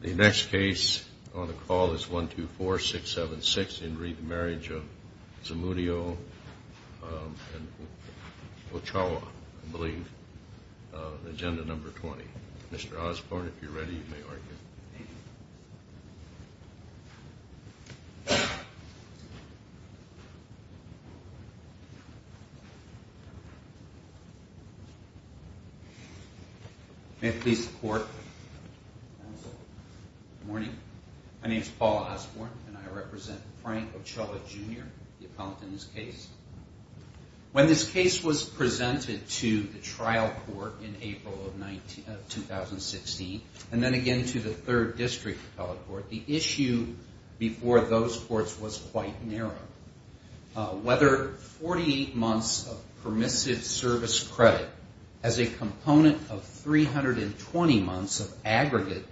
The next case on the call is 124676 in re Marriage of Zamudio and Ochoa, I believe, Agenda number 20. Mr. Osborne, if you're ready, you may argue. Thank you. May it please the court. Good morning. My name is Paul Osborne, and I represent Frank Ochoa, Jr., the appellant in this case. When this case was presented to the trial court in April of 2016, and then again to the 3rd District Court, the issue before those courts was quite narrow. Whether 48 months of permissive service credit as a component of 320 months of aggregate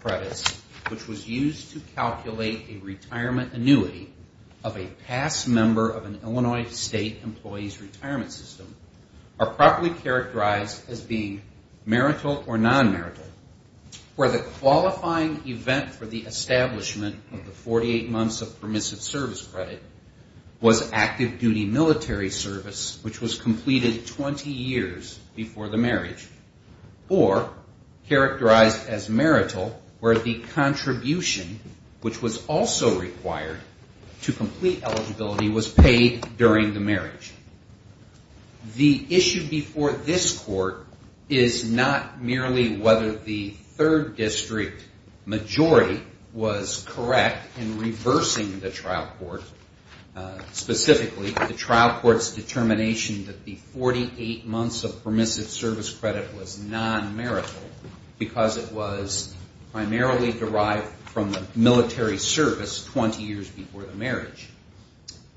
credits, which was used to calculate a retirement annuity of a past member of an Illinois State employee's retirement system, are properly characterized as being marital or non-marital. Where the qualifying event for the establishment of the 48 months of permissive service credit was active duty military service, which was completed 20 years before the marriage, or characterized as marital, where the contribution, which was also required to complete eligibility, was paid during the marriage. The issue before this court is not merely whether the 3rd District majority was correct in reversing the trial court, specifically the trial court's determination that the 48 months of permissive service credit was non-marital, because it was primarily derived from military service 20 years before the marriage.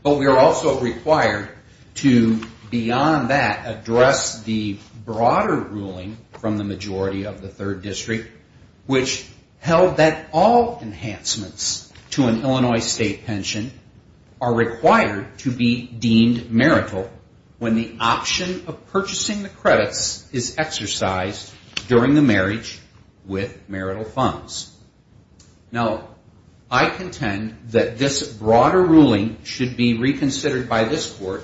But we are also required to, beyond that, address the broader ruling from the majority of the 3rd District, which held that all enhancements to an Illinois State pension are required to be deemed marital when the option of purchasing the credits is exercised during the marriage with marital funds. Now, I contend that this broader ruling should be reconsidered by this court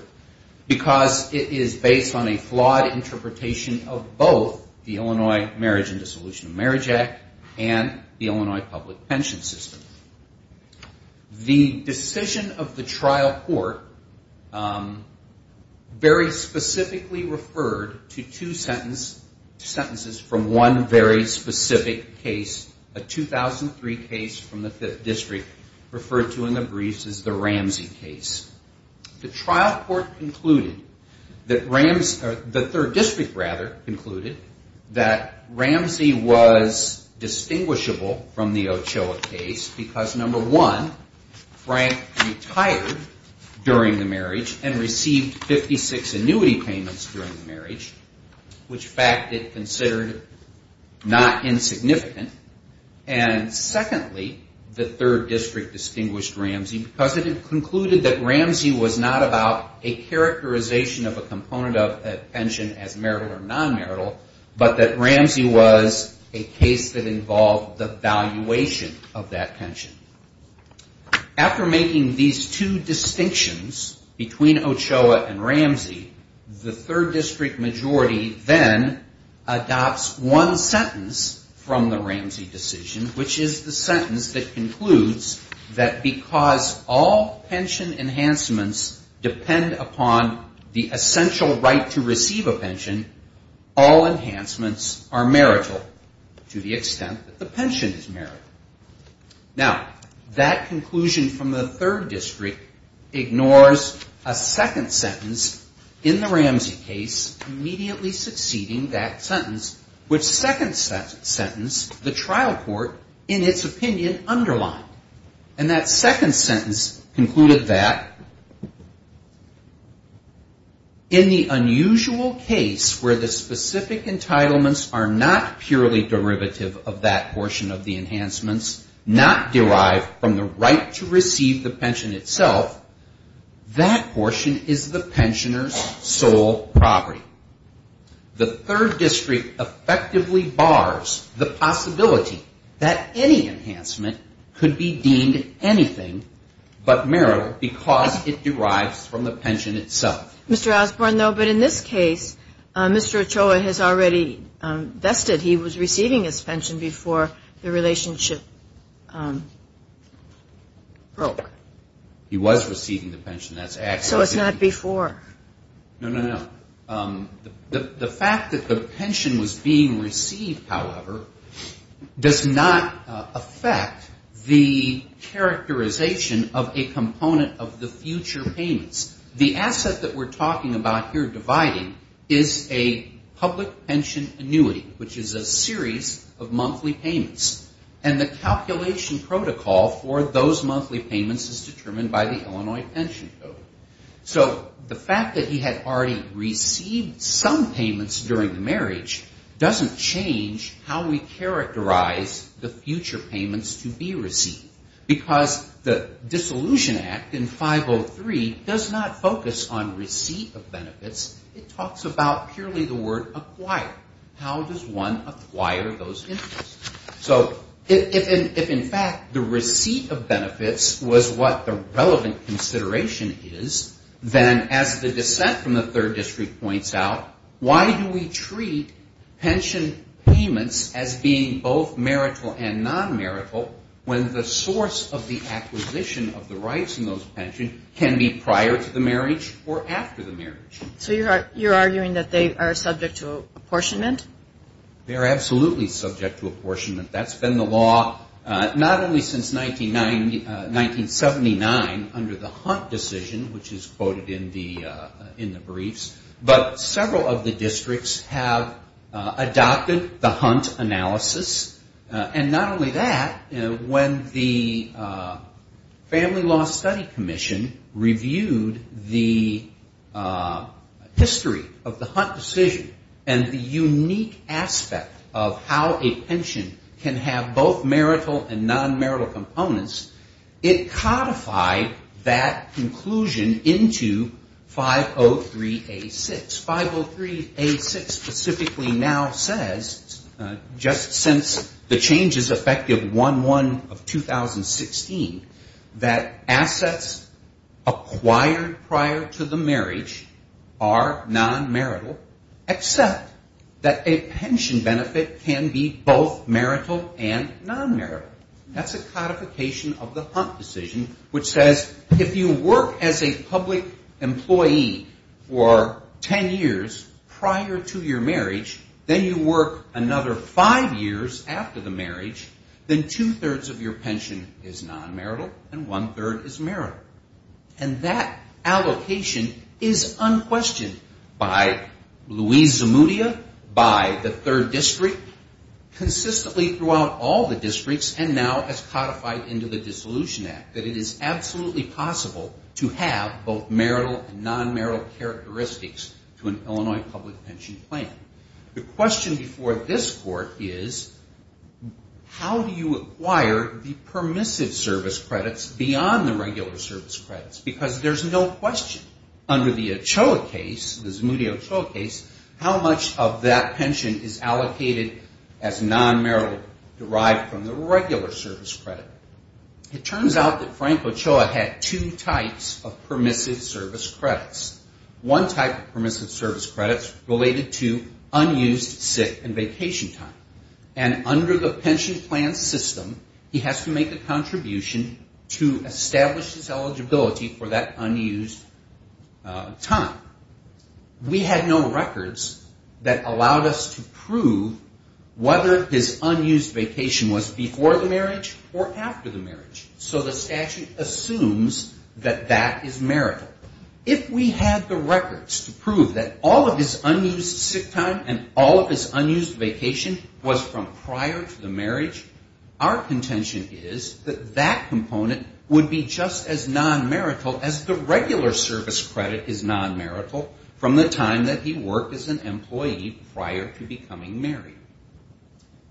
because it is based on a flawed interpretation of both the Illinois Marriage and Dissolution of Marriage Act and the Illinois public pension system. The decision of the trial court very specifically referred to two sentences from one very specific case, a 2003 case from the 5th District, referred to in the briefs as the Ramsey case. The trial court concluded that Ramsey was distinguishable from the Ochoa case because, number one, Frank retired during the marriage and received 56 annuity payments during the marriage, which fact it considered not insignificant. Ramsey was not about a characterization of a component of a pension as marital or non-marital, but that Ramsey was a case that involved the valuation of that pension. After making these two distinctions between Ochoa and Ramsey, the 3rd District majority then adopts one sentence from the Ramsey decision, which is the sentence that concludes that because all pension enhancements depend upon the essential right to receive a pension, all enhancements are marital to the extent that the pension is marital. Now, that conclusion from the 3rd District ignores a second sentence in the Ramsey case immediately succeeding that sentence, which second sentence the trial court, in its opinion, underlined. And that second sentence concluded that in the unusual case where the specific entitlements are not purely derivative of that portion of the enhancements, not derived from the right to receive the pension itself, that portion is the pensioner's sole property. The 3rd District effectively bars the possibility that any enhancement could be deemed anything but marital because it derives from the pension itself. But in this case, Mr. Ochoa has already vested he was receiving his pension before the relationship broke. He was receiving the pension. So it's not before. No, no, no. The fact that the pension was being received, however, does not affect the characterization of a component of the future payments. The asset that we're talking about here dividing is a public pension annuity, which is a series of monthly payments. And the calculation protocol for those monthly payments is determined by the Illinois Pension Code. So the fact that he had already received some payments during the marriage doesn't change how we characterize the future payments to be received. Because the Dissolution Act in 503 does not focus on receipt of benefits. It talks about purely the word acquired. How does one acquire those interests? So if in fact the receipt of benefits was what the relevant consideration is, then as the dissent from the 3rd District points out, why do we treat pension payments as being both marital and non-marital when the source of the acquisition of the rights in those pensions can be prior to the marriage or after the marriage? So you're arguing that they are subject to apportionment? They are absolutely subject to apportionment. That's been the law not only since 1979 under the Hunt decision, which is quoted in the briefs, but several of the districts have adopted the Hunt analysis. And not only that, when the Family Law Study Commission reviewed the history of the Hunt decision and the unique aspect of how a pension can have both marital and non-marital components, it codified that conclusion into 503A6. 503A6 specifically now says, just since the changes effective 1-1 of 2016, that assets acquired prior to the marriage are non-marital except that a pension benefit can be both marital and non-marital. That's a codification of the Hunt decision, which says if you work as a public employee for 10 years prior to your marriage, then you work another five years after the marriage, then two-thirds of your pension is non-marital and one-third is marital. And that allocation is unquestioned by Louise Zamudia, by the third district, consistently throughout all the districts, and now as codified into the Dissolution Act, that it is absolutely possible to have both marital and non-marital characteristics to an Illinois public pension plan. The question before this Court is, how do you acquire the permissive service credits beyond the regular service credits? Because there's no question under the Ochoa case, the Zamudia-Ochoa case, how much of that pension is allocated as non-marital derived from the regular service credit. It turns out that Frank Ochoa had two types of permissive service credits. One type of permissive service credits related to unused sit and vacation time. And under the pension plan system, he has to make a contribution to establish his eligibility for that unused time. We had no records that allowed us to prove whether his unused vacation was before the marriage or after the marriage. So the statute assumes that that is marital. If we had the records to prove that all of his unused sit time and all of his unused vacation was from prior to the marriage, our contention is that that component would be just as non-marital as the regular service credit is non-marital from the time that he worked as an employee prior to becoming married.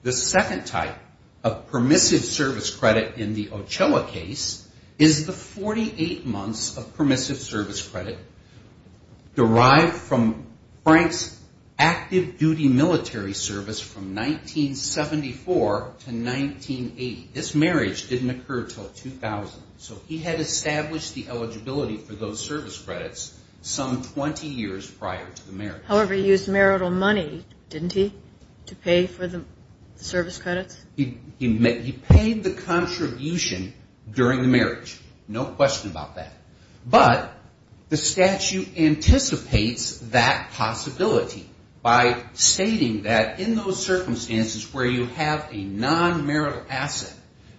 The second type of permissive service credit in the Ochoa case is the 48 months of permissive service credit derived from Frank's active duty military service from 1974 to 1980. This marriage didn't occur until 2000. So he had established the eligibility for those service credits some 20 years prior to the marriage. However, he used marital money, didn't he, to pay for the service credits? He paid the contribution during the marriage. No question about that. But the statute anticipates that possibility by stating that in those circumstances where you have a non-marital asset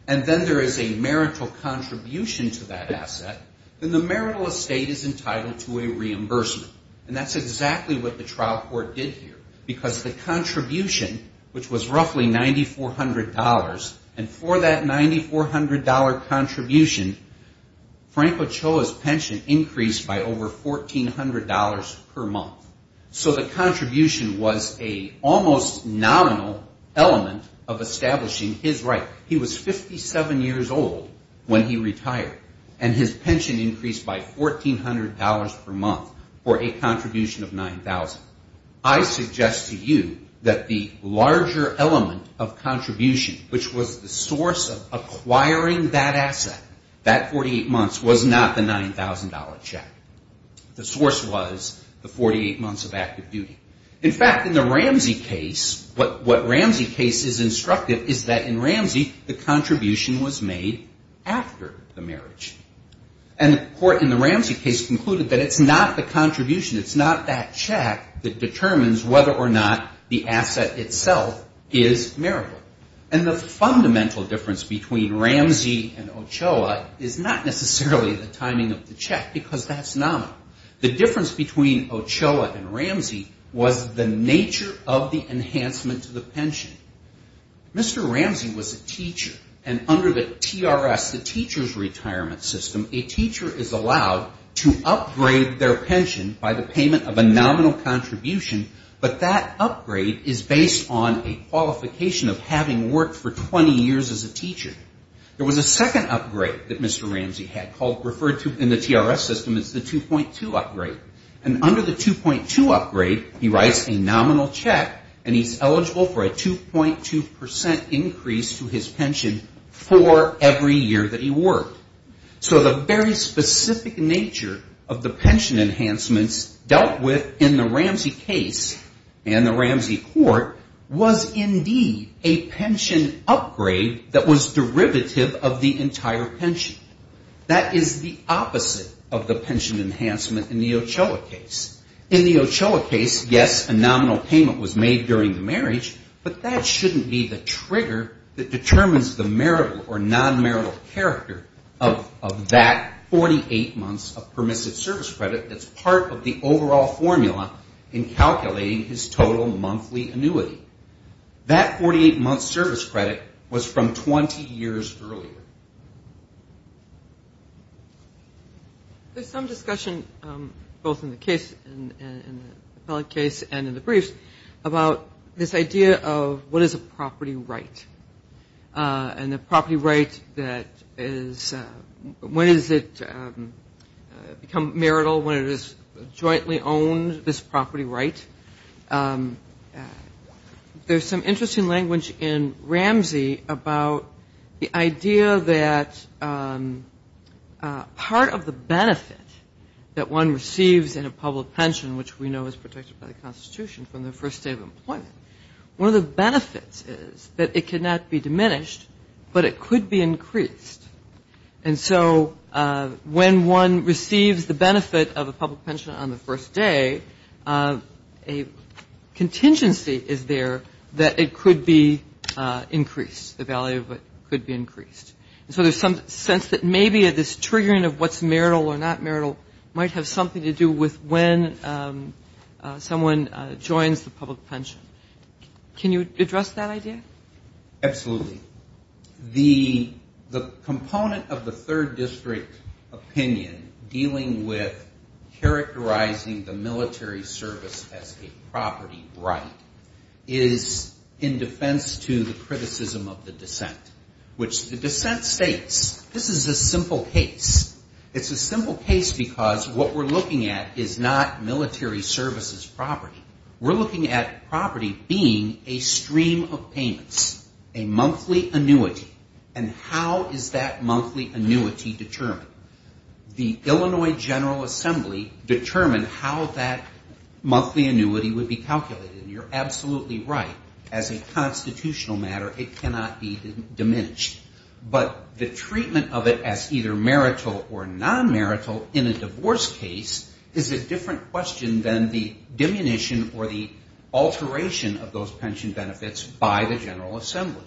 and then there is a marital contribution to that asset, then the marital estate is entitled to a reimbursement. And that's exactly what the trial court did here. Because the contribution, which was roughly $9,400, and for that $9,400 contribution, Frank Ochoa's pension increased by over $1,400 per month. So the contribution was an almost nominal element of establishing his right. He was 57 years old when he retired, and his pension increased by $1,400 per month for a contribution of $9,000. I suggest to you that the larger element of contribution, which was the source of acquiring that asset, that 48 months was not the $9,000 check. The source was the 48 months of active duty. In fact, in the Ramsey case, what Ramsey case is instructive is that in Ramsey, the contribution was made after the marriage. And the court in the Ramsey case concluded that it's not the contribution, it's not that check that determines whether or not the asset itself is marital. And the fundamental difference between Ramsey and Ochoa is not necessarily the timing of the check, because that's nominal. The difference between Ochoa and Ramsey was the nature of the enhancement to the pension. Mr. Ramsey was a teacher, and under the TRS, the teacher's retirement system, a teacher is allowed to upgrade their pension by the payment of a nominal contribution, but that upgrade is based on a qualification of having worked for 20 years as a teacher. There was a second upgrade that Mr. Ramsey had referred to in the TRS system as the 2.2 upgrade. And under the 2.2 upgrade, he writes a nominal check, and he's eligible for a 2.2% increase to his pension for every year that he worked. So the very specific nature of the pension enhancements dealt with in the Ramsey case and the Ramsey court was indeed a pension upgrade that was derivative of the entire pension. That is the opposite of the pension enhancement in the Ochoa case. In the Ochoa case, yes, a nominal payment was made during the marriage, but that shouldn't be the trigger that determines the marital or nonmarital character of that 48 months of permissive service credit that's part of the overall formula in calculating his total monthly annuity. That 48-month service credit was from 20 years earlier. There's some discussion both in the case and in the briefs about this idea of what is a property right, and the property right that is when does it become marital when it is jointly owned, this property right. There's some interesting language in Ramsey about the idea that part of the benefit that one receives in a public pension, which we know is protected by the Constitution from the first day of employment, one of the benefits is that it cannot be diminished, but it could be increased. And so when one receives the benefit of a public pension on the first day, a contingency is there that it could be increased, the value of it could be increased. So there's some sense that maybe this triggering of what's marital or not marital might have something to do with when someone joins the public pension. Can you address that idea? Absolutely. The component of the third district opinion dealing with characterizing the military service as a property right is in defense to the criticism of the dissent, which the dissent states this is a simple case. It's a simple case because what we're looking at is not military services property. We're looking at property being a stream of payments, a monthly annuity, and how is that monthly annuity determined? The Illinois General Assembly determined how that monthly annuity would be calculated. You're absolutely right. As a constitutional matter, it cannot be diminished. But the treatment of it as either marital or non-marital in a divorce case is a different question than the diminution or the alteration of those pension benefits by the General Assembly.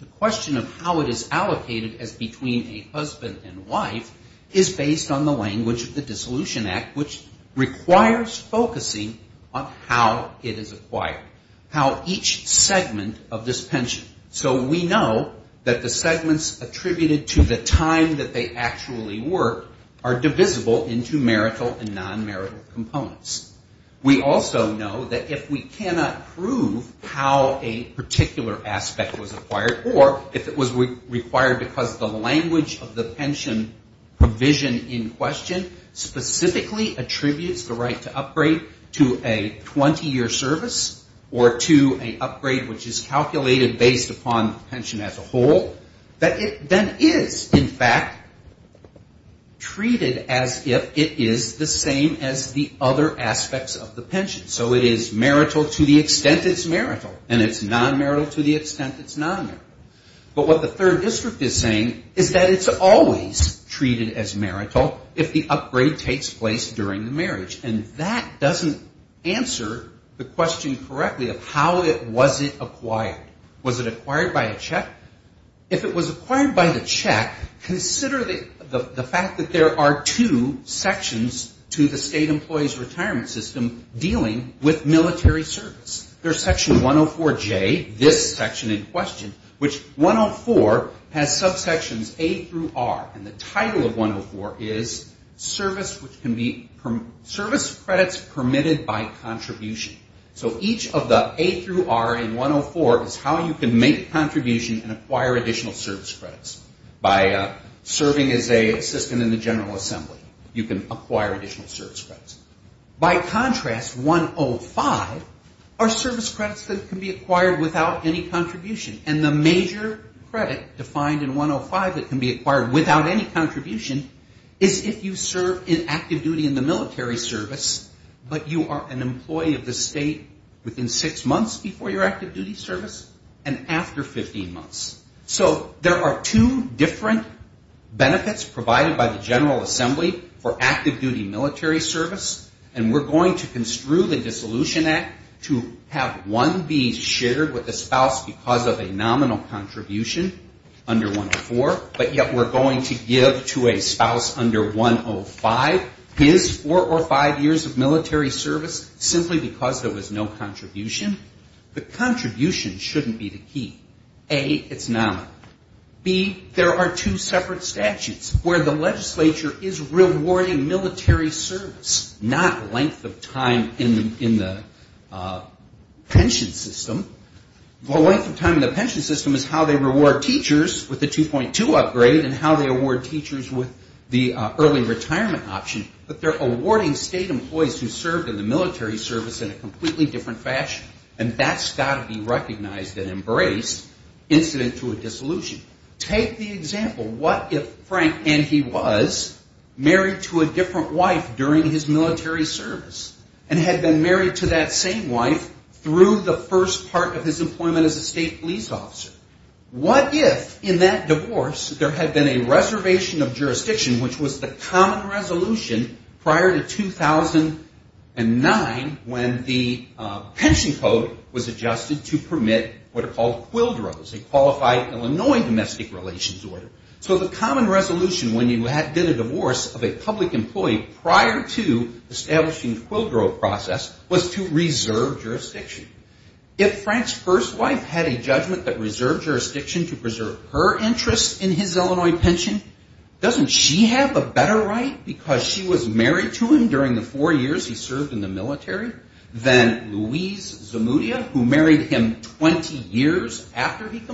The question of how it is allocated as between a husband and wife is based on the language of the Dissolution Act, which requires focusing on how it is acquired, how each segment of this pension. So we know that the segments attributed to the time that they actually work are divisible into marital and non-marital components. We also know that if we cannot prove how a particular aspect was acquired, or if it was required because of the language of the pension provision in question, specifically attributes the right to upgrade to a 20-year service or to an upgrade which is calculated based on the number of years of service. Based upon the pension as a whole, that it then is, in fact, treated as if it is the same as the other aspects of the pension. So it is marital to the extent it's marital, and it's non-marital to the extent it's non-marital. But what the third district is saying is that it's always treated as marital if the upgrade takes place during the marriage. And that doesn't answer the question correctly of how it was it acquired. If it was acquired by a check, if it was acquired by the check, consider the fact that there are two sections to the state employee's retirement system dealing with military service. There's section 104J, this section in question, which 104 has subsections A through R, and the title of 104 is service credits permitted by contribution. So each of the A through R in 104 is how you can make a contribution and acquire additional service credits. By serving as an assistant in the General Assembly, you can acquire additional service credits. By contrast, 105 are service credits that can be acquired without any contribution. And the major credit defined in 105 that can be acquired without any contribution is if you serve in active duty in the military service, but you are an assistant in the state within six months before your active duty service and after 15 months. So there are two different benefits provided by the General Assembly for active duty military service, and we're going to construe the Dissolution Act to have one be shared with a spouse because of a nominal contribution under 104, but yet we're going to give to a spouse under 105 his four or five years of military service simply because of a nominal contribution. Because there was no contribution, the contribution shouldn't be the key. A, it's nominal. B, there are two separate statutes where the legislature is rewarding military service, not length of time in the pension system. The length of time in the pension system is how they reward teachers with the 2.2 upgrade and how they award teachers with the early retirement option, but they're awarding state employees who served in the military service in a compliant way. And that's got to be recognized and embraced incident to a dissolution. Take the example, what if Frank and he was married to a different wife during his military service and had been married to that same wife through the first part of his employment as a state police officer? What if in that divorce there had been a reservation of jurisdiction, which was the common resolution prior to 2009 when the state police officer was appointed? The pension code was adjusted to permit what are called quildros, a qualified Illinois domestic relations order. So the common resolution when you did a divorce of a public employee prior to establishing the quildro process was to reserve jurisdiction. If Frank's first wife had a judgment that reserved jurisdiction to preserve her interest in his Illinois pension, doesn't she have a better right because she was married to him during the four years he served in the military? And if Frank's first wife had a judgment that reserved jurisdiction to preserve her interest in his Illinois pension, doesn't she have a better right because she was married to him during the four years he served in the military?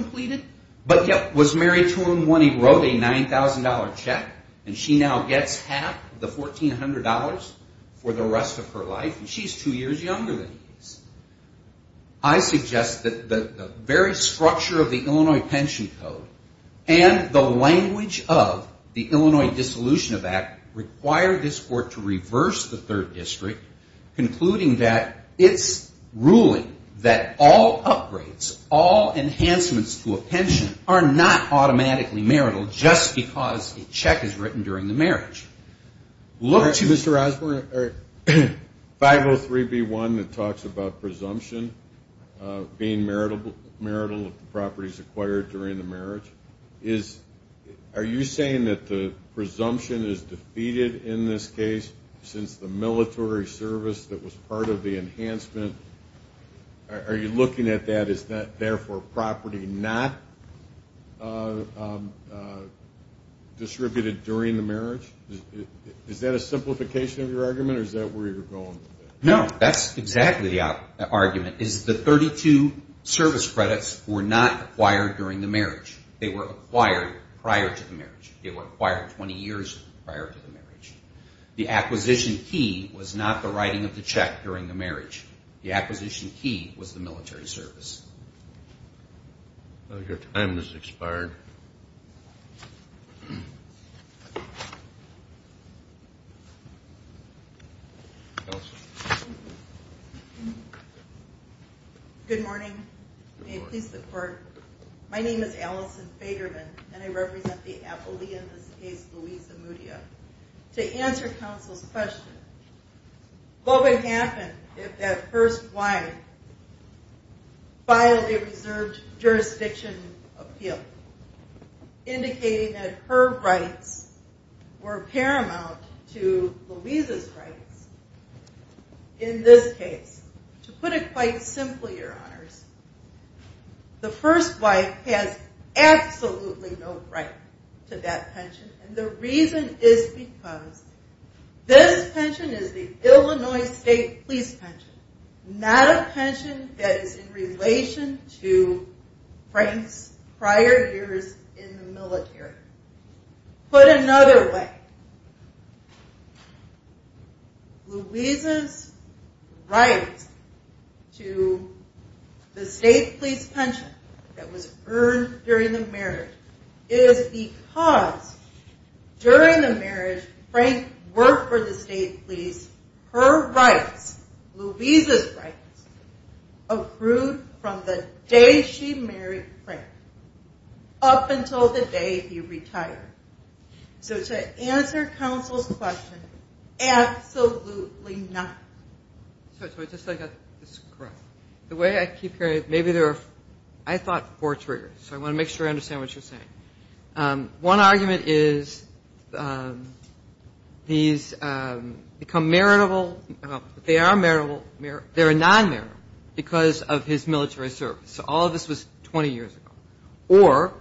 Concluding that it's ruling that all upgrades, all enhancements to a pension are not automatically marital just because a check is written during the marriage. Look to Mr. Osborne, 503B1 that talks about presumption being marital properties acquired during the marriage. Are you saying that the presumption is defeated in this case since the military service that was part of the enhancement? Are you looking at that as therefore property not distributed during the marriage? Is that a simplification of your argument or is that where you're going with it? No, that's exactly the argument is the 32 service credits were not acquired during the marriage. They were acquired prior to the marriage. They were acquired 20 years prior to the marriage. The acquisition key was not the writing of the check during the marriage. The acquisition key was the military service. Your time has expired. Good morning. May it please the court. My name is Allison Fagerman and I represent the appellee in this case, Louisa Mudia. To answer counsel's question, what would happen if that first wife filed a reserved jurisdiction appeal? Indicating that her rights were paramount to Louisa's rights. In this case, to put it quite simply, your honors, the first wife has absolutely no right to that pension. And the reason is because this pension is the Illinois State Police pension, not a pension that is in relation to Frank's prior years in the military. Put another way, Louisa's right to the state police pension that was earned during the marriage is because during the marriage, Frank worked for the state police. Her rights, Louisa's rights, accrued from the day she married Frank up until the day he retired. So to answer counsel's question, absolutely not. The way I keep hearing it, maybe there are, I thought four triggers. So I want to make sure I understand what you're saying. One argument is these become marital, they are marital, they're non-marital because of his military service. So all of this was 20 years ago. Or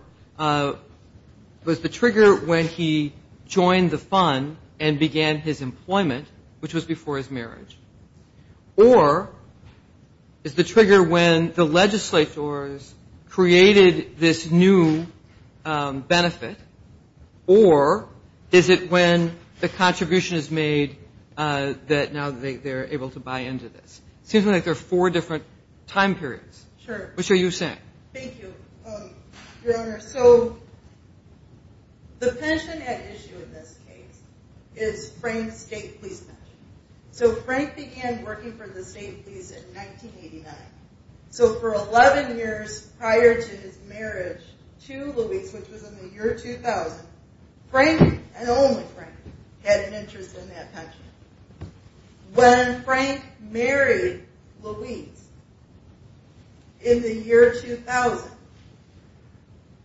was the trigger when he joined the fund and began his employment, which was before his marriage? Or is the trigger when the legislators created this new benefit? Or is it when the contribution is made that now they're able to buy into this? Seems like there are four different time periods. Thank you, your honor. So the pension at issue in this case is Frank's state police pension. So Frank began working for the state police in 1989. So for 11 years prior to his marriage to Louisa, which was in the year 2000, Frank, and only Frank, had an interest in that pension. When Frank married Louisa in the year 2000,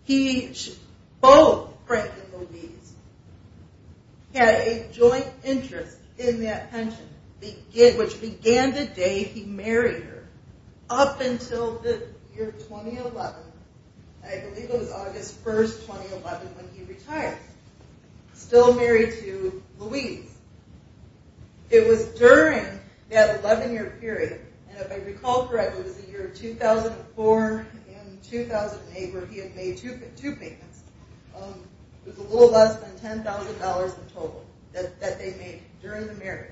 he, both Frank and Louisa, had a joint interest in that pension, which began the day he married her. Up until the year 2011, I believe it was August 1st, 2011 when he retired, still married to Louisa. It was during that 11 year period, and if I recall correctly it was the year 2004 and 2008 where he had made two payments. It was a little less than $10,000 in total that they made during the marriage.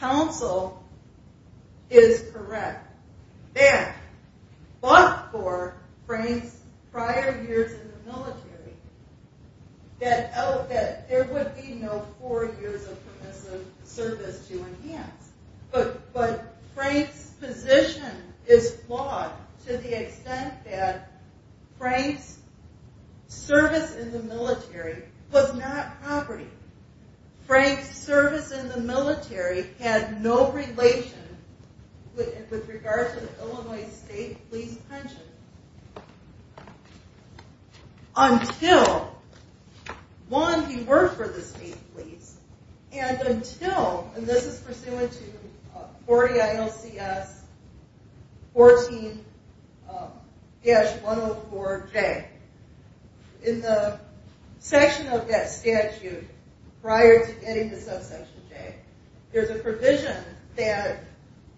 Counsel is correct that, but for Frank's prior years in the military, that there would be no four years of permissive service to enhance. But Frank's position is flawed to the extent that Frank's service in the military was not property. Frank's service in the military had no relation with regards to the Illinois state police pension. Until, one, he worked for the state police, and until, and this is pursuant to 40 ILCS 14-104J, in the section of that statute prior to getting the subsection J, there's a provision that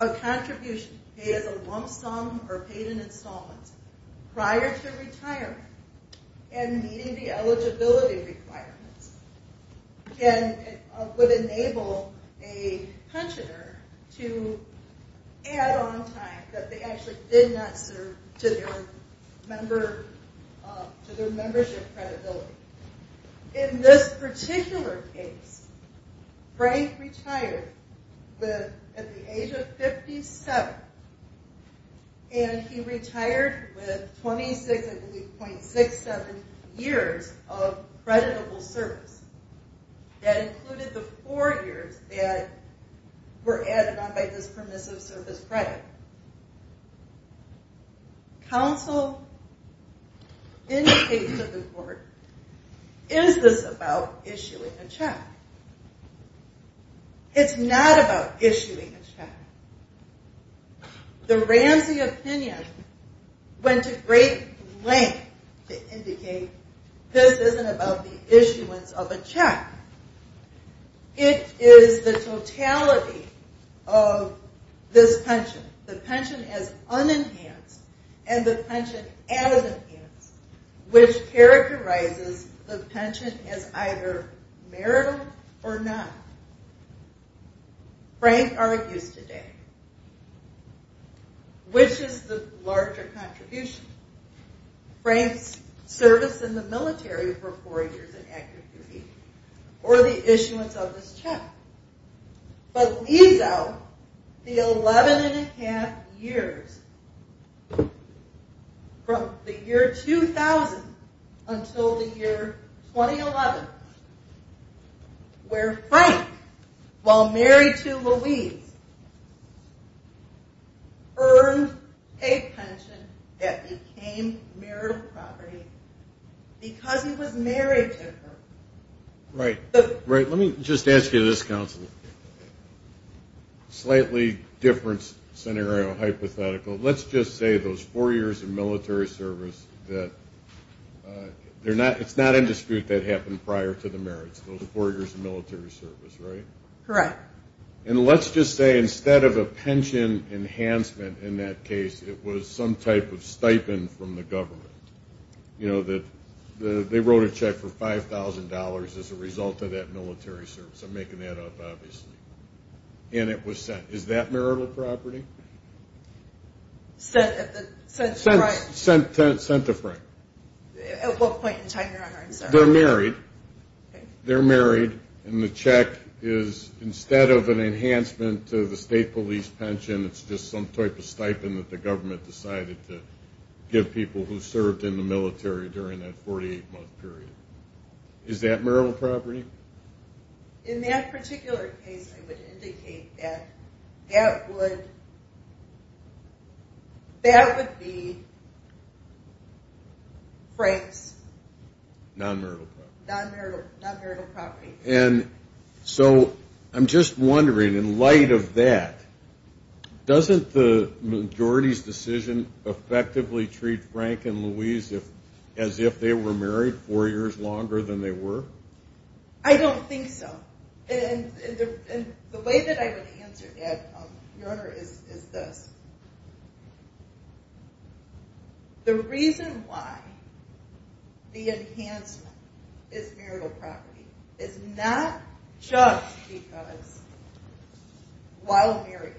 a contribution paid as a lump sum or paid in installments prior to retirement and meeting the eligibility requirements would enable a pensioner to add on time that they actually did not serve to their membership credibility. In this particular case, Frank retired at the age of 57, and he retired with 26.67 years of creditable service. That included the four years that were added on by this permissive service credit. Counsel indicates to the court, is this about issuing a check? It's not about issuing a check. The Ramsey opinion went to great length to indicate this isn't about the issuance of a check. It is the totality of this pension, the pension as unenhanced and the pension as enhanced, which characterizes the pension as either marital or not. Frank argues today, which is the larger contribution? Frank's service in the military for four years in active duty or the issuance of this check. But leaves out the 11.5 years from the year 2000 until the year 2011, where Frank, while married to Louise, earned a pension that became marital property because he was married to her. Right. Let me just ask you this, Counsel. Slightly different scenario hypothetical. Let's just say those four years of military service, it's not indisputable that happened prior to the marriage, those four years of military service, right? Correct. And let's just say instead of a pension enhancement in that case, it was some type of stipend from the government. They wrote a check for $5,000 as a result of that military service. I'm making that up, obviously. And it was sent. Is that marital property? Sent to Frank. At what point in time, Your Honor? They're married, and the check is instead of an enhancement to the state police pension, it's just some type of stipend that the government decided to give people who served in the military during that 48-month period. Is that marital property? In that particular case, I would indicate that that would be Frank's non-marital property. I'm just wondering, in light of that, doesn't the majority's decision effectively treat Frank and Louise as if they were married four years longer than they were? I don't think so. And the way that I would answer that, Your Honor, is this. The reason why the enhancement is marital property is not just because while married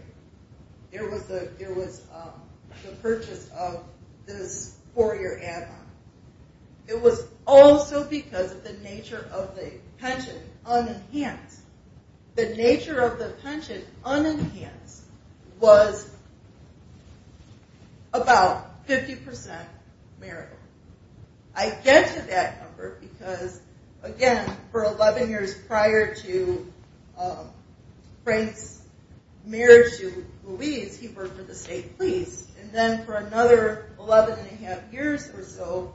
there was the purchase of this four-year admiral. It was also because of the nature of the pension unenhanced. The nature of the pension unenhanced was about 50% marital. I get to that number because, again, for 11 years prior to Frank's marriage to Louise, he worked for the state police. And then for another 11 and a half years or so,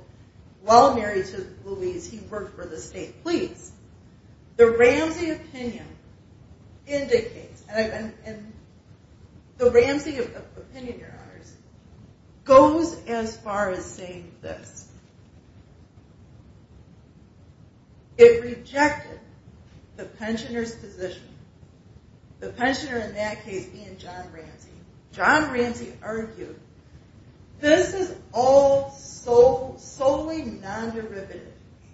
while married to Louise, he worked for the state police. The Ramsey opinion goes as far as saying this. It rejected the pensioner's position. The pensioner in that case being John Ramsey. John Ramsey argued, this is all solely non-derivative.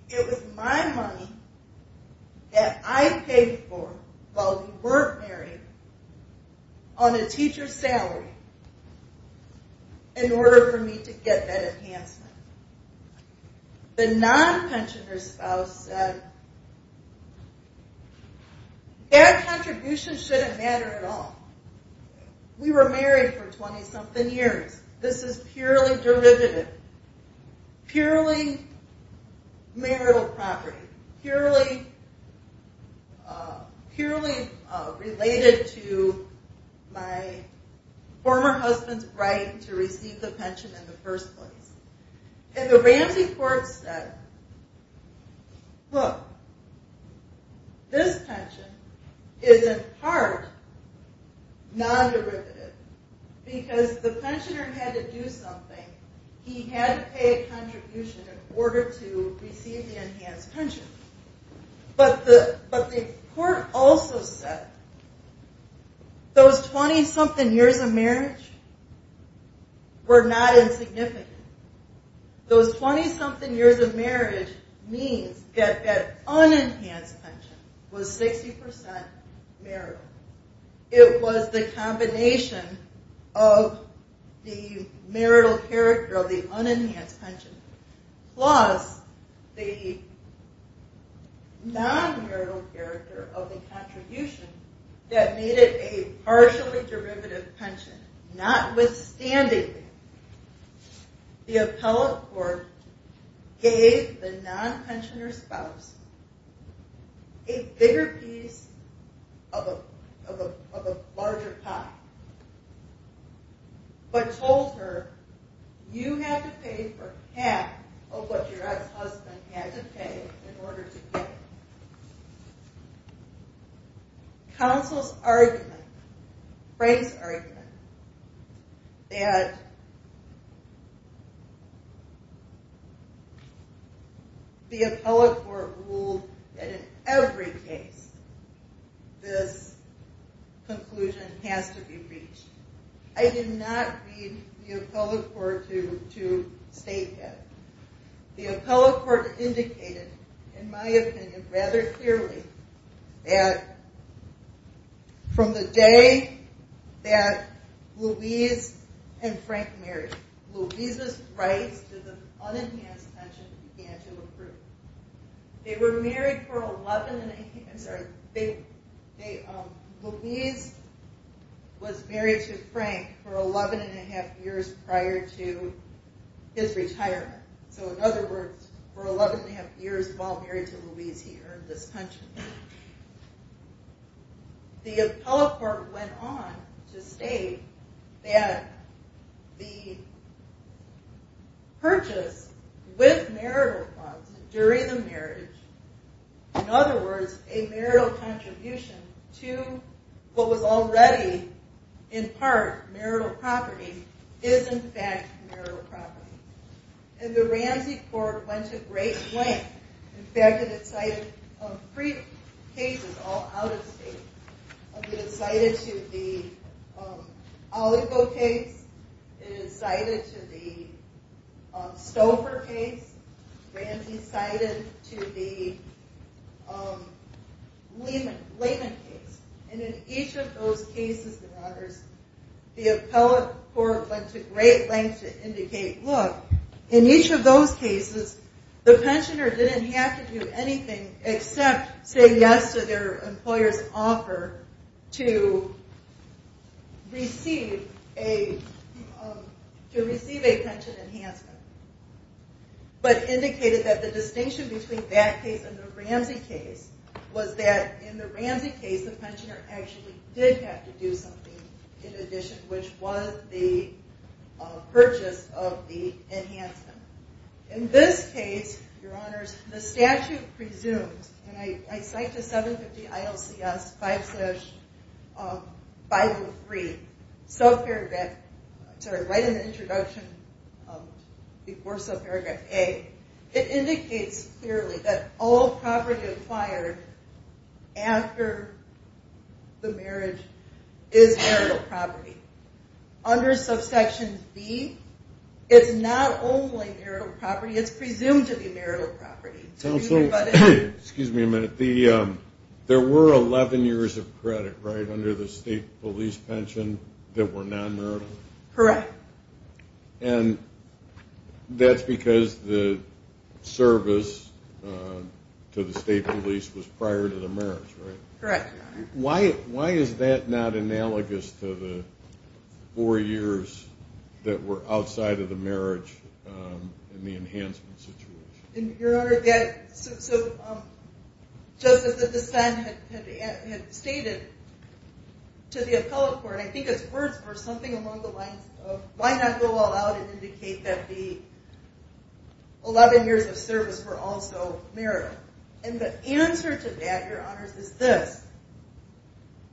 It was my money that I paid for while we weren't married on a teacher's salary in order for me to get that enhancement. The non-pensioner's spouse said, their contribution shouldn't matter at all. We were married for 20-something years. This is purely derivative. Purely marital property. Purely related to my former husband's right to receive the pension in the first place. And the Ramsey court said, look, this pension is in part non-derivative because the pensioner had to do something. He had to pay a contribution in order to receive the enhanced pension. But the court also said, those 20-something years of marriage were not insignificant. Those 20-something years of marriage means that that unenhanced pension was 60% marital. It was the combination of the marital character of the unenhanced pension plus the non-marital character of the contribution that made it a partially derivative pension. Notwithstanding, the appellate court gave the non-pensioner's spouse a bigger piece of a larger pie, but told her, you have to pay for half of what your ex-husband had to pay in order to get it. Counsel's argument, Frank's argument, that the appellate court ruled that in every case this conclusion has to be reached. I did not read the appellate court to state that. The appellate court indicated, in my opinion, rather clearly, that from the day that Louise and Frank married, Louise's rights to the unenhanced pension began to improve. Louise was married to Frank for 11 and a half years prior to his retirement. So in other words, for 11 and a half years while married to Louise, he earned this pension. The appellate court went on to state that the purchase with marital clause during the marriage, in other words, a marital contribution to what was already in part marital property, is in fact marital property. And the Ramsey court went to great length. In fact, it cited three cases all out of state. It cited to the Oligo case, it cited to the Stouffer case, Ramsey cited to the Lehman case. And in each of those cases, the appellate court went to great length to indicate, look, in each of those cases, the pensioner didn't have to do anything except say yes to their employer's offer to receive a pension enhancement. But indicated that the distinction between that case and the Ramsey case was that in the Ramsey case, the pensioner actually did have to do something in addition, which was the purchase of the enhancement. In this case, your honors, the statute presumes, and I cite to 750 ILCS 5-503, subparagraph, sorry, right in the introduction before subparagraph A, it indicates clearly that all property acquired after the marriage is marital property. Under subsection B, it's not only marital property, it's presumed to be marital property. Counsel, excuse me a minute. There were 11 years of credit, right, under the state police pension that were non-marital? Correct. And that's because the service to the state police was prior to the marriage, right? Correct, your honor. Why is that not analogous to the four years that were outside of the marriage in the enhancement situation? Your honor, so just as the dissent had stated to the appellate court, I think it's worth for something along the lines of why not go all out and indicate that the 11 years of service were also marital? And the answer to that, your honors, is this.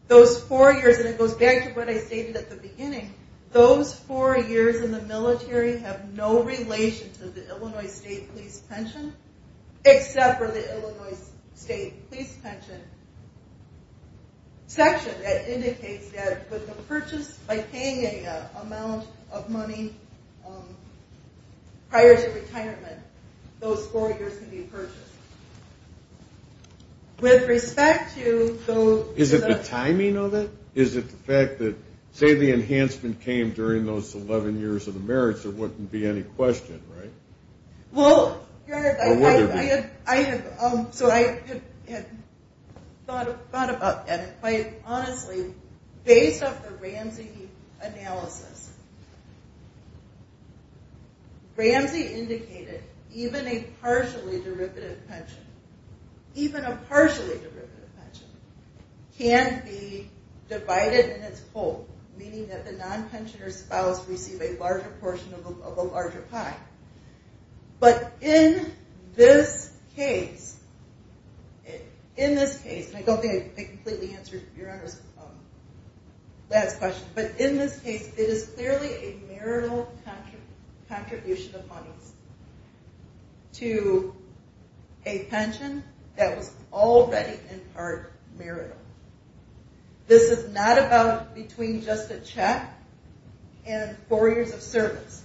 Those four years, and it goes back to what I stated at the beginning, those four years in the military have no relation to the Illinois state police pension except for the Illinois state police pension section. That indicates that with the purchase by paying an amount of money prior to retirement, those four years can be purchased. With respect to those... Is it the timing of it? Is it the fact that say the enhancement came during those 11 years of the marriage, there wouldn't be any question, right? Well, your honor, I have thought about that, and quite honestly, based off the Ramsey analysis, Ramsey indicated even a partially derivative pension, even a partially derivative pension can be divided in its whole, meaning that the non-pensioner spouse receive a larger portion of a larger pie. But in this case, in this case, and I don't think I completely answered your honor's last question, but in this case, it is clearly a marital contribution of monies to a pension that was already in part marital. This is not about between just a check and four years of service.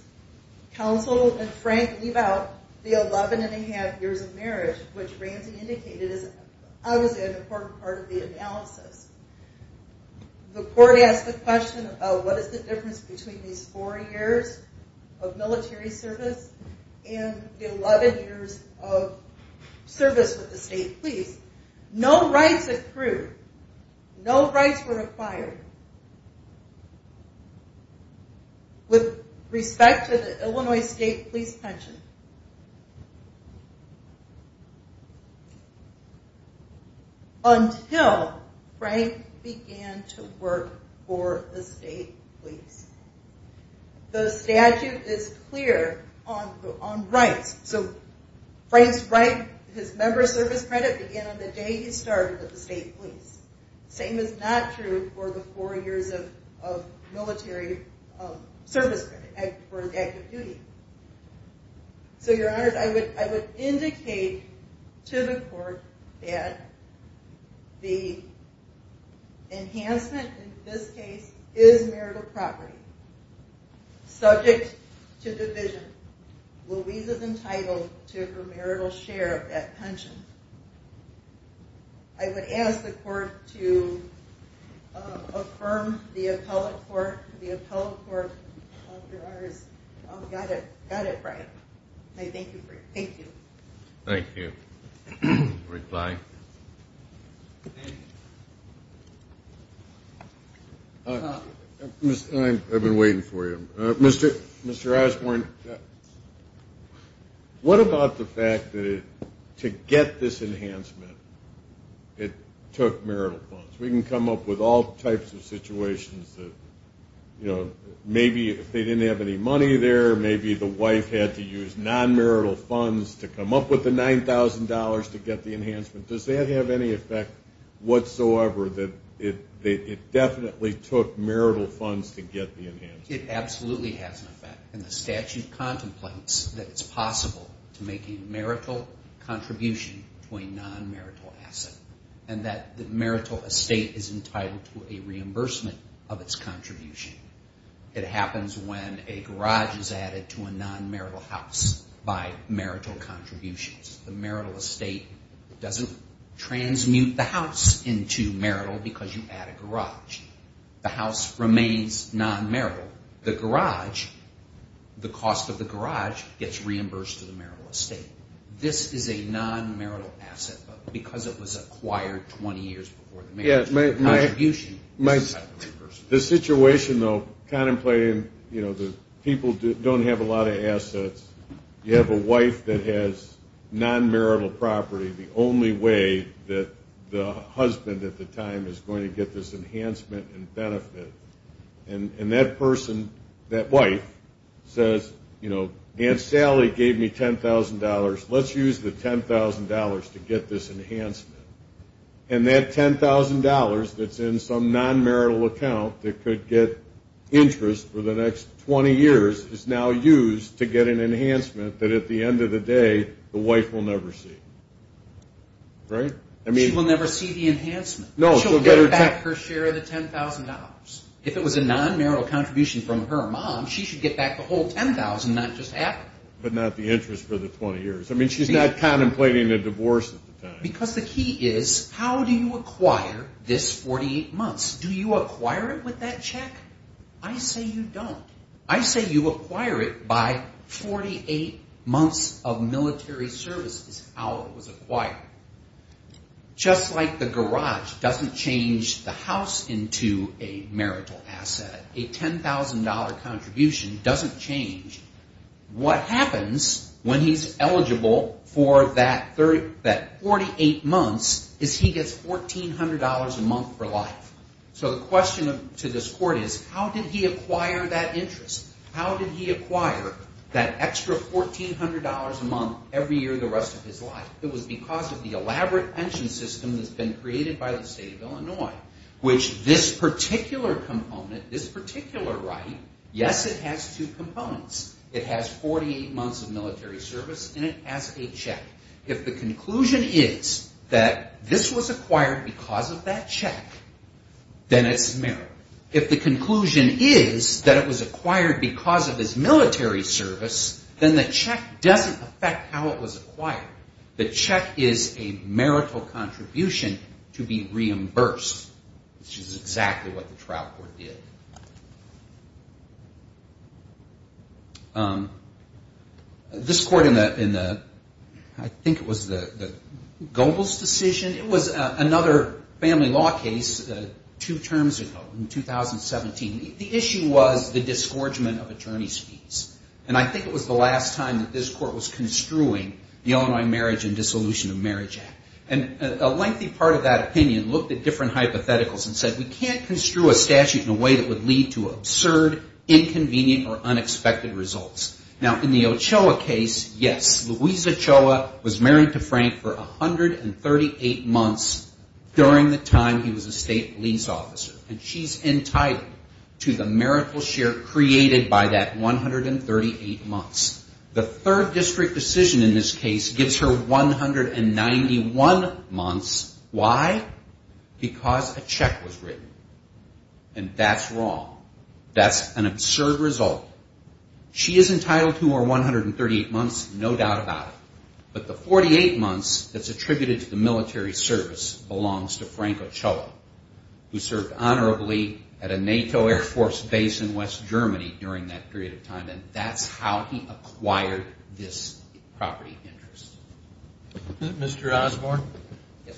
Counsel and Frank leave out the 11 and a half years of marriage, which Ramsey indicated is obviously an important part of the analysis. The court asked the question of what is the difference between these four years of military service and the 11 years of service with the state police. No rights approved, no rights were acquired with respect to the Illinois state police pension. Until Frank began to work for the state police. The statute is clear on rights. So Frank's right, his member service credit began on the day he started with the state police. Same is not true for the four years of military service credit for active duty. So your honors, I would indicate to the court that the enhancement in this case is marital property. Subject to division, Louisa is entitled to her marital share of that pension. I would ask the court to affirm the appellate court, the appellate court, your honors. Got it, got it right. Thank you. Thank you. I've been waiting for you. Mr. Osborne, what about the fact that to get this enhancement, it took marital funds? We can come up with all types of situations. Maybe if they didn't have any money there, maybe the wife had to use non-marital funds to come up with the $9,000 to get the enhancement. Does that have any effect whatsoever that it definitely took marital funds to get the enhancement? It happens when a garage is added to a non-marital house by marital contributions. The marital estate doesn't transmute the house into marital because you add a garage. The house remains non-marital. The garage, the cost of the garage gets reimbursed to the marital estate. This is a non-marital asset because it was acquired 20 years before the marriage. The contribution gets reimbursed. People don't have a lot of assets. You have a wife that has non-marital property, the only way that the husband at the time is going to get this enhancement and benefit. That person, that wife, says Aunt Sally gave me $10,000. Let's use the $10,000 to get this enhancement. That $10,000 that's in some non-marital account that could get interest for the next 20 years is now used to get an enhancement that at the end of the day, the wife will never see. She will never see the enhancement. She'll get back her share of the $10,000. If it was a non-marital contribution from her mom, she should get back the whole $10,000, not just half of it. But not the interest for the 20 years. I mean, she's not contemplating a divorce at the time. Because the key is, how do you acquire this 48 months? Do you acquire it with that check? I say you don't. I say you acquire it by 48 months of military service is how it was acquired. Just like the garage doesn't change the house into a marital asset, a $10,000 contribution doesn't change, what happens when he's eligible for that 48 months is he gets $1,400 a month for life. So the question to this court is, how did he acquire that interest? How did he acquire that extra $1,400 a month every year the rest of his life? It was because of the elaborate pension system that's been created by the state of Illinois, which this particular component, this particular right, yes, it has two components. It has 48 months of military service and it has a check. If the conclusion is that this was acquired because of that check, then it's marital. If the conclusion is that it was acquired because of his military service, then the check doesn't affect how it was acquired. The check is a marital contribution to be reimbursed, which is exactly what the trial court did. This court in the, I think it was the Goebbels decision. It was another family law case two terms ago in 2017. The issue was the disgorgement of attorney's fees. And I think it was the last time that this court was construing the Illinois Marriage and Dissolution of Marriage Act. And a lengthy part of that opinion looked at different hypotheticals and said, we can't construe a statute in a way that would lead to absurd, inconvenient, or unexpected results. Now, in the Ochoa case, yes, Louisa Choa was married to Frank for 138 months during the time he was a state police officer. And she's entitled to the marital share created by that $1,400. The third district decision in this case gives her 191 months. Why? Because a check was written. And that's wrong. That's an absurd result. She is entitled to her 138 months, no doubt about it. But the 48 months that's attributed to the military service belongs to Frank Ochoa, who served honorably at a NATO Air Force base in West Germany during that period of time. And that's how he acquired this property interest. Mr. Osborne,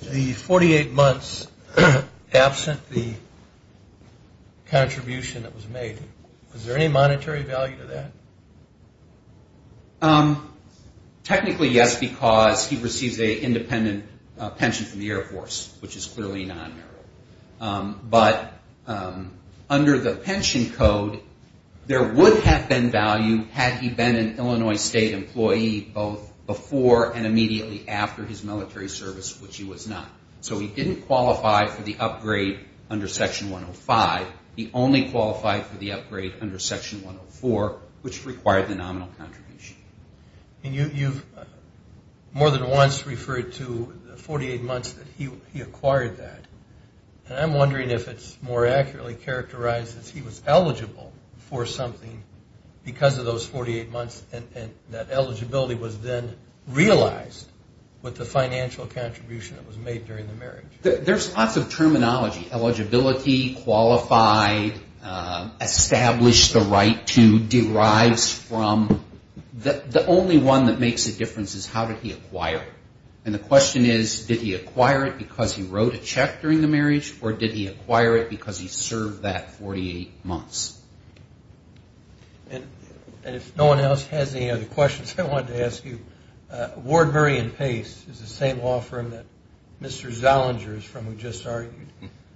the 48 months absent the contribution that was made, was there any monetary value to that? military service, which he was not. So he didn't qualify for the upgrade under Section 105. He only qualified for the upgrade under Section 104, which required the nominal contribution. And you've more than once referred to the 48 months that he acquired that. And I'm wondering if it's more accurately characterized that he was eligible for something because of those 48 months, and that eligibility was then realized with the financial contribution that was made during the marriage. There's lots of terminology. Eligibility, qualified, established the right to, derives from. The only one that makes a difference is how did he acquire it. And the question is, did he acquire it because he wrote a check during the marriage, or did he acquire it because he served that 48 months? And if no one else has any other questions, I wanted to ask you, Wardbury and Pace is the same law firm that Mr. Zollinger is from, who just argued.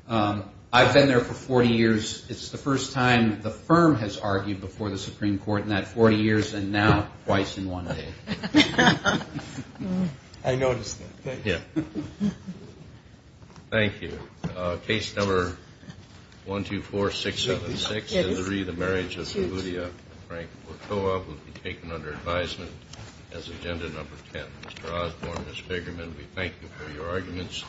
I've been there for 40 years. It's the first time the firm has argued before the Supreme Court in that 40 years, and now twice in one day. I noticed that. Thank you. Thank you. Case number 124676-3, the marriage of Saludia and Frank Wachoa, will be taken under advisement as agenda number 10. Mr. Osborne, Ms. Figureman, we thank you for your arguments.